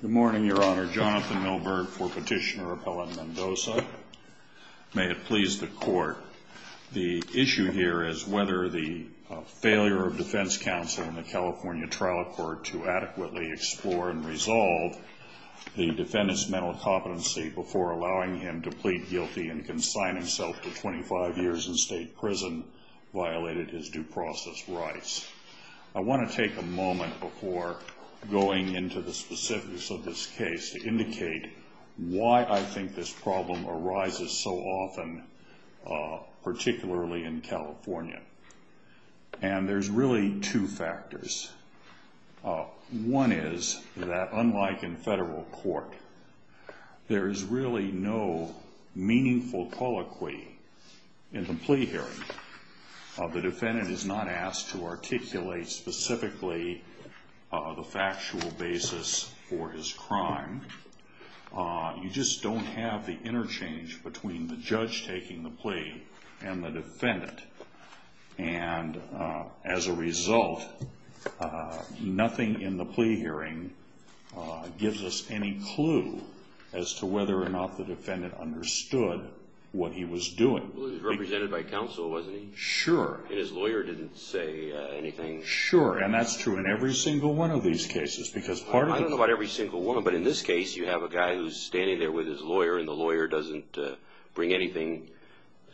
Good morning, Your Honor. Jonathan Milberg for Petitioner Appellant Mendoza. May it please the Court, the issue here is whether the failure of defense counsel in the California Trial Court to adequately explore and resolve the defendant's mental competency before allowing him to plead guilty and consign himself to 25 years in state prison violated his due process rights. I want to take a moment before going into the specific specifics of this case to indicate why I think this problem arises so often, particularly in California. And there's really two factors. One is that unlike in federal court, there is really no meaningful colloquy in the plea hearing. The defendant is not asked to articulate specifically the factual basis for his crime. You just don't have the interchange between the judge taking the plea and the defendant. And as a result, nothing in the plea hearing gives us any clue as to whether or not the defendant understood what he was doing. He was represented by counsel, wasn't he? Sure. And his lawyer didn't say anything? Sure. And that's true in every single one of these cases. I don't know about every single one, but in this case, you have a guy who's standing there with his lawyer, and the lawyer doesn't bring anything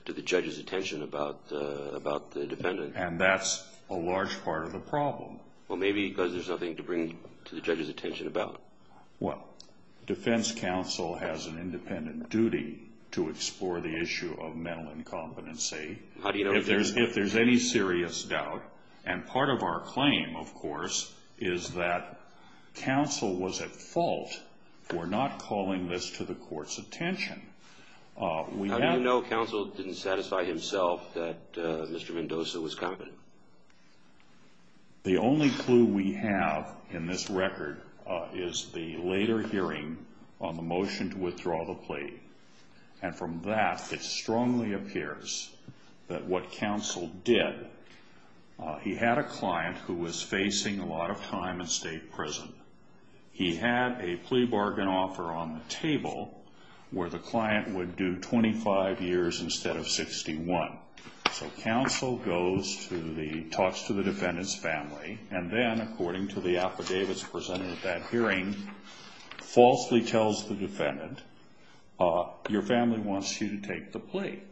to the judge's attention about the defendant. And that's a large part of the problem. Well, maybe because there's nothing to bring to the judge's attention about. Well, defense counsel has an independent duty to explore the issue of mental incompetency if there's any serious doubt. And part of our claim, of course, is that counsel was at fault for not calling this to the court's attention. How do you know counsel didn't satisfy himself that Mr. Mendoza was competent? The only clue we have in this record is the later hearing on the motion to withdraw the plea. And from that, it strongly appears that what counsel did, he had a client who was facing a lot of time in state prison. He had a plea bargain offer on the table where the client would do 25 years instead of 61. So counsel talks to the defendant's family, and then, according to the affidavits presented at that hearing, falsely tells the defendant, your family wants you to take the plea.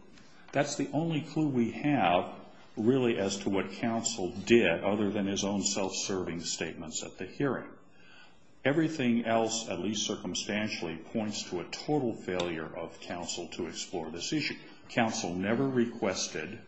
That's the only clue we have, really, as to what counsel did other than his own self-serving statements at the hearing. Everything else, at least circumstantially, points to a total failure of counsel to explore this issue. Counsel never requested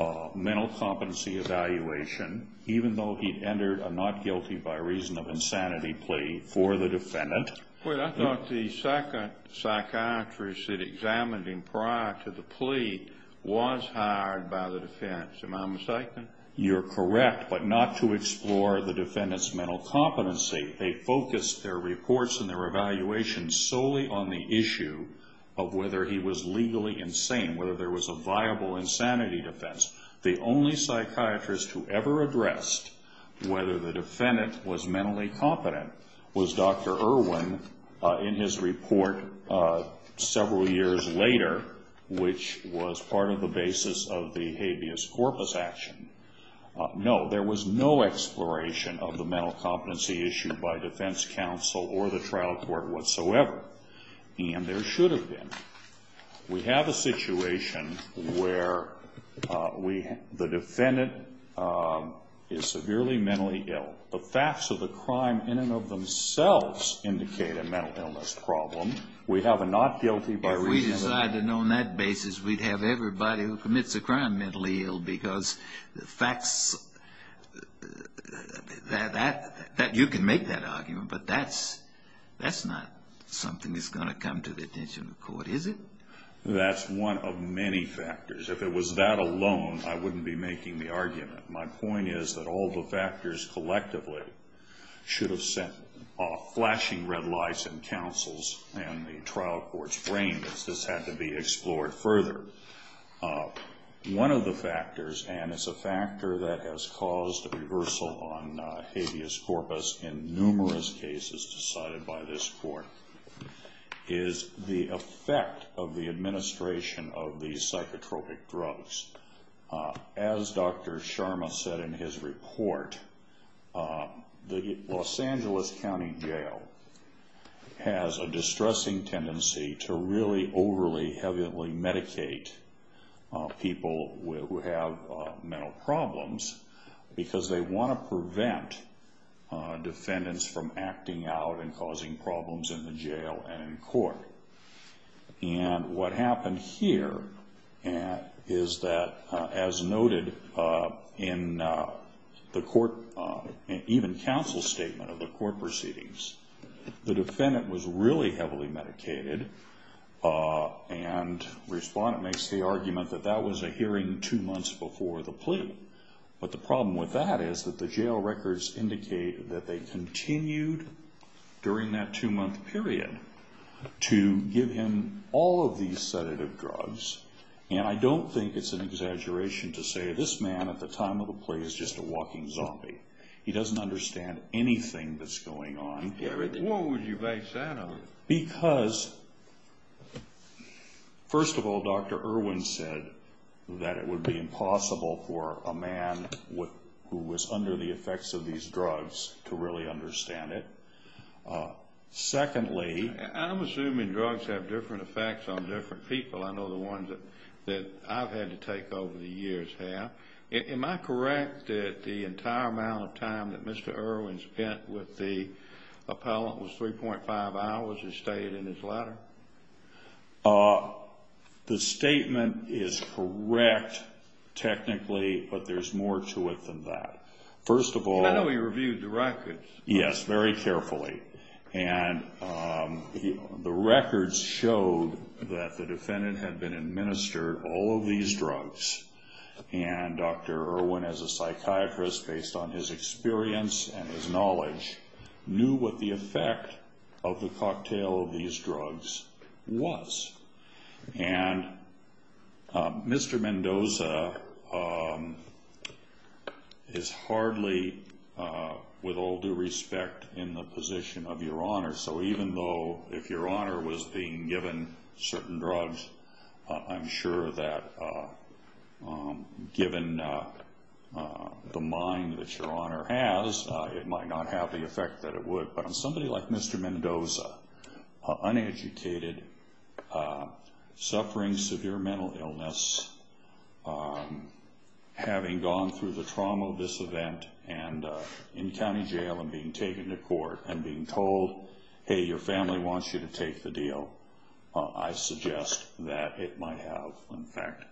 a mental competency evaluation, even though he'd entered a not guilty by reason of insanity plea for the defendant. Well, I thought the second psychiatrist that examined him prior to the plea was hired by the defendant, so am I mistaken? You're correct, but not to explore the defendant's mental competency. They focused their reports and their evaluations solely on the issue of whether he was legally insane, whether there was a viable insanity defense. The only psychiatrist who ever addressed whether the defendant was mentally competent was Dr. Irwin in his report several years later, which was part of the basis of the habeas corpus action. No, there was no exploration of the mental competency issue by defense counsel or the trial court whatsoever, and there should have been. We have a situation where the defendant is severely mentally ill. The facts of the crime in and of themselves indicate a mental illness problem. We have a not guilty by reason of insanity. mentally ill because the facts that you can make that argument, but that's not something that's going to come to the attention of court, is it? That's one of many factors. If it was that alone, I wouldn't be making the argument. My point is that all the factors collectively should have sent off flashing red lights in counsel's and the trial court's brains. This had to be explored further. One of the factors, and it's a factor that has caused a reversal on habeas corpus in numerous cases decided by this court, is the effect of the administration of these psychotropic drugs. As Dr. Sharma said in his report, the Los Angeles County Jail has a distressing tendency to really overly heavily medicate people who have mental problems because they want to prevent defendants from acting out and causing problems in the jail and in court. What happened here is that, as noted in the court, even counsel's statement of the court proceedings, the defendant was really heavily medicated and respondent makes the argument that that was a hearing two months before the plea. But the problem with that is that the jail records indicate that they continued during that two-month period to give him all of these sedative drugs. And I don't think it's an exaggeration to say this man at the time of the plea is just a walking zombie. He doesn't understand anything that's going on. Why would you base that on? Because, first of all, Dr. Irwin said that it would be impossible for a man who was under the effects of these drugs to really understand it. Secondly, I'm assuming drugs have different effects on different people. I know the ones that I've had to take over the years have. Am I correct that the entire amount of time that Mr. Irwin spent with the appellant was 3.5 hours, as stated in his letter? The statement is correct, technically, but there's more to it than that. First of all, I know he reviewed the records. Yes, very carefully. And the records showed that the defendant had been administered all of these drugs. And Dr. Irwin, as a psychiatrist, based on his experience and his knowledge, knew what the effect of the cocktail of these drugs was. And Mr. Mendoza is hardly, with all due respect, in the position of Your Honor. So even though, if Your Honor was being given certain drugs, I'm sure that, given the mind that Your Honor has, it might not have the effect that it would. But on somebody like Mr. Mendoza, uneducated, suffering severe mental illness, having gone through the trauma of this event, and in county jail and being taken to court and being told, hey, your family wants you to take the deal, I suggest that it might have, in fact,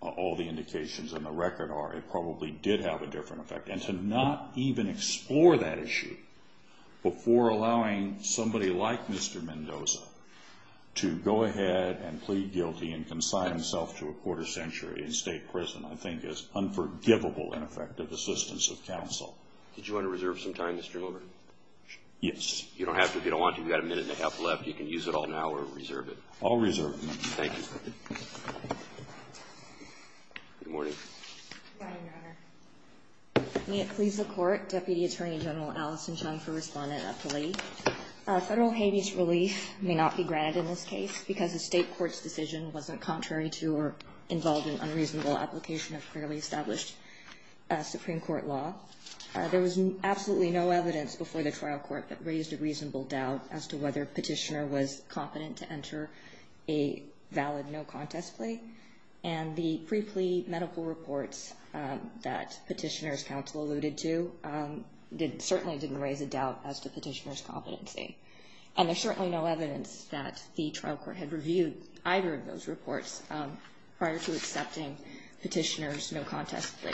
all the indications in the record are it probably did have a different effect. And to not even explore that issue before allowing somebody like Mr. Mendoza to go ahead and plead guilty and consign himself to a quarter century in state prison, I think, is unforgivable, in effect, of assistance of counsel. Did you want to reserve some time, Mr. Miller? Yes. You don't have to. If you don't want to, you've got a minute and a half left. You can use it all now or reserve it. I'll reserve it. Thank you. Good morning. Good morning, Your Honor. May it please the Court, Deputy Attorney General Allison Chung for respondent of the plea. Federal habeas relief may not be granted in this case because the state court's decision wasn't contrary to or involved in unreasonable application of clearly established Supreme Court law. There was absolutely no evidence before the trial court that raised a reasonable doubt as to whether Petitioner was competent to enter a valid no contest plea. And the pre-plea medical reports that Petitioner's counsel alluded to certainly didn't raise a doubt as to Petitioner's competency. And there's certainly no evidence that the trial court had reviewed either of those reports prior to accepting Petitioner's no contest plea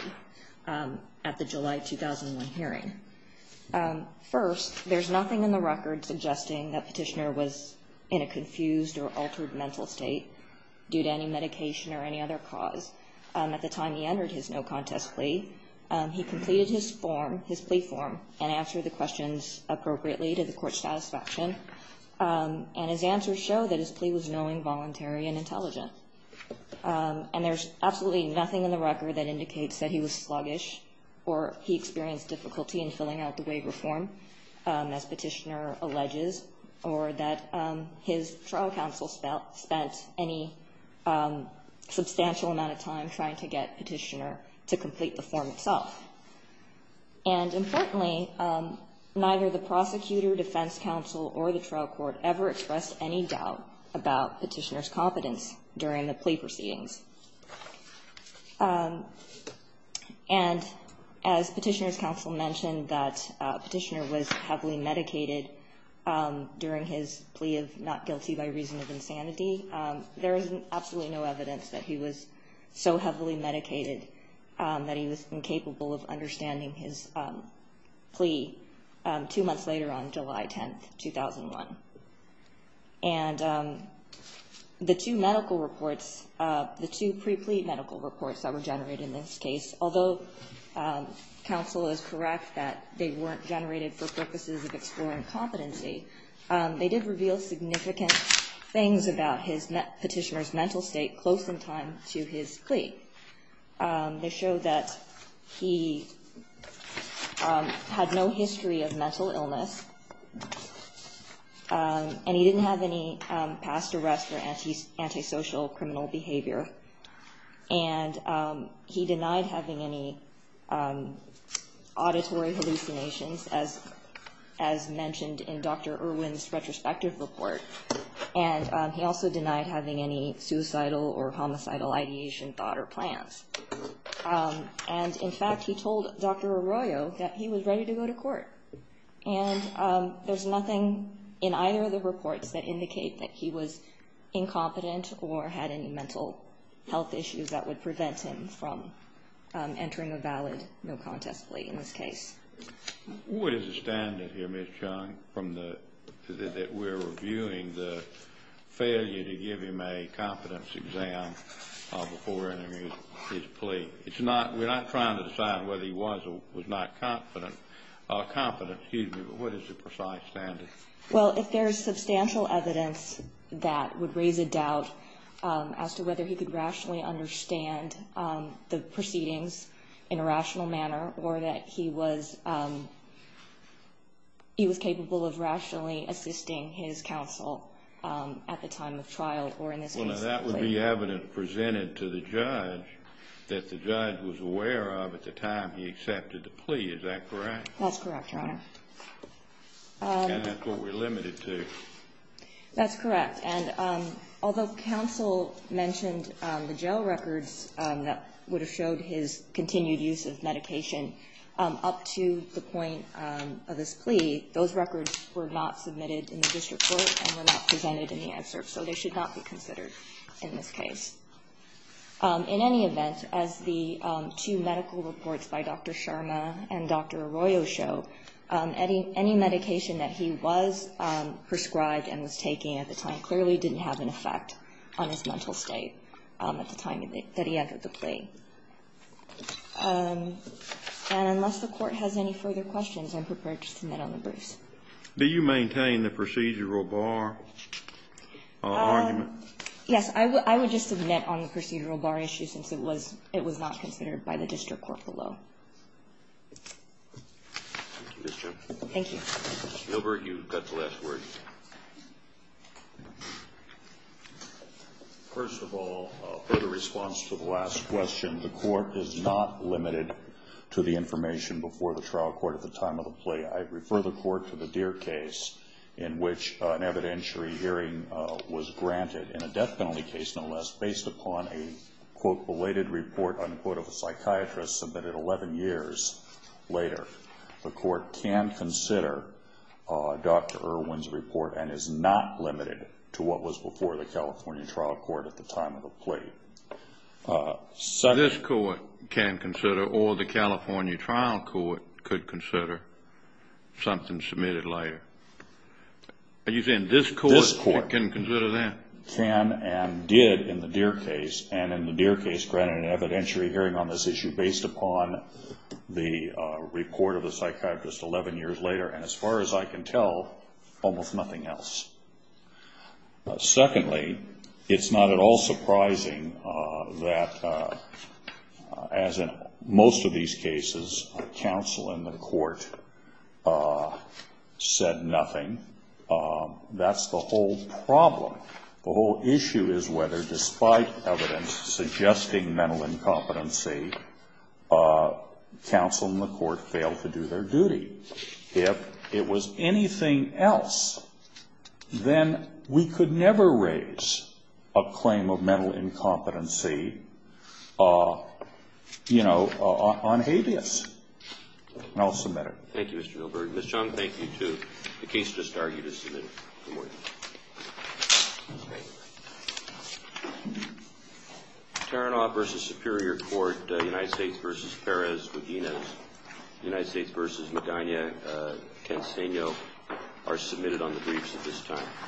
at the July 2001 hearing. First, there's nothing in the record suggesting that Petitioner was in a confused or altered mental state due to any medication or any other cause. At the time he entered his no contest plea, he completed his form, his plea form, and answered the questions appropriately to the court's satisfaction. And his answers show that his plea was knowing, voluntary, and intelligent. And there's absolutely nothing in the record that indicates that he was sluggish or he experienced difficulty in filling out the waiver form, as Petitioner alleges, or that his trial counsel spent any substantial amount of time trying to get Petitioner to complete the form itself. And importantly, neither the prosecutor, defense counsel, or the trial court ever expressed any doubt about Petitioner's competence during the plea proceedings. And as Petitioner's counsel mentioned that Petitioner was heavily medicated during his plea of not guilty by reason of insanity, there is absolutely no evidence that he was so heavily medicated that he was incapable of understanding his plea two months later on July 10, 2001. And the two medical reports, the two pre-plea medical reports that were generated in this case, although counsel is correct that they weren't generated for purposes of exploring competency, they did reveal significant things about Petitioner's mental state close in time to his plea. They show that he had no history of mental illness, and he didn't have any past arrest or antisocial criminal behavior. And he denied having any auditory hallucinations, as mentioned in Dr. Irwin's retrospective report. And he also denied having any suicidal or homicidal ideation, thought, or plans. And in fact, he told Dr. Arroyo that he was ready to go to court. And there's nothing in either of the reports that indicate that he was incompetent or had any mental health issues that would prevent him from entering a valid no-contest plea in this case. What is the standard here, Ms. Chung, that we're reviewing the failure to give him a competence exam before entering his plea? It's not, we're not trying to decide whether he was or was not competent, or competent, excuse me, but what is the precise standard? Well, if there's substantial evidence that would raise a doubt as to whether he could rationally understand the proceedings in a rational manner or that he was, he was capable of rationally assisting his counsel at the time of trial or in this case. Well, now that would be evidence presented to the judge that the judge was aware of at the time he accepted the plea. Is that correct? That's correct, Your Honor. And that's what we're limited to. That's correct. And although counsel mentioned the jail records that would have showed his continued use of medication up to the point of his plea, those records were not submitted in the district court and were not presented in the excerpt, so they should not be considered in this case. In any event, as the two medical reports by Dr. Sharma and Dr. Arroyo show, any medication that he was prescribed and was taking at the time clearly didn't have an effect on his mental state at the time that he entered the plea. And unless the Court has any further questions, I'm prepared to submit on the briefs. Do you maintain the procedural bar argument? Yes. I would just submit on the procedural bar issue since it was not considered by the district court below. Thank you. Mr. Gilbert, you've got the last word. First of all, for the response to the last question, the Court is not limited to the information before the trial court at the time of the plea. I refer the Court to the Deere case in which an evidentiary hearing was granted. In a death penalty case, no less, based upon a, quote, and is not limited to what was before the California trial court at the time of the plea. This Court can consider, or the California trial court could consider something submitted later. Are you saying this Court can consider that? This Court can and did in the Deere case, and in the Deere case granted an evidentiary hearing on this issue based upon the report of the psychiatrist 11 years later, and as far as I can tell, almost nothing else. Secondly, it's not at all surprising that, as in most of these cases, counsel in the court said nothing. That's the whole problem. The whole issue is whether, despite evidence suggesting mental incompetency, counsel in the court failed to do their duty. If it was anything else, then we could never raise a claim of mental incompetency, you know, on habeas. And I'll submit it. Thank you, Mr. Gilbert. Ms. Chung, thank you, too. The case just argued is submitted. Thank you. Good morning. Taranoff v. Superior Court, United States v. Perez-Muginez, United States v. Medina, Tenseño are submitted on the briefs at this time.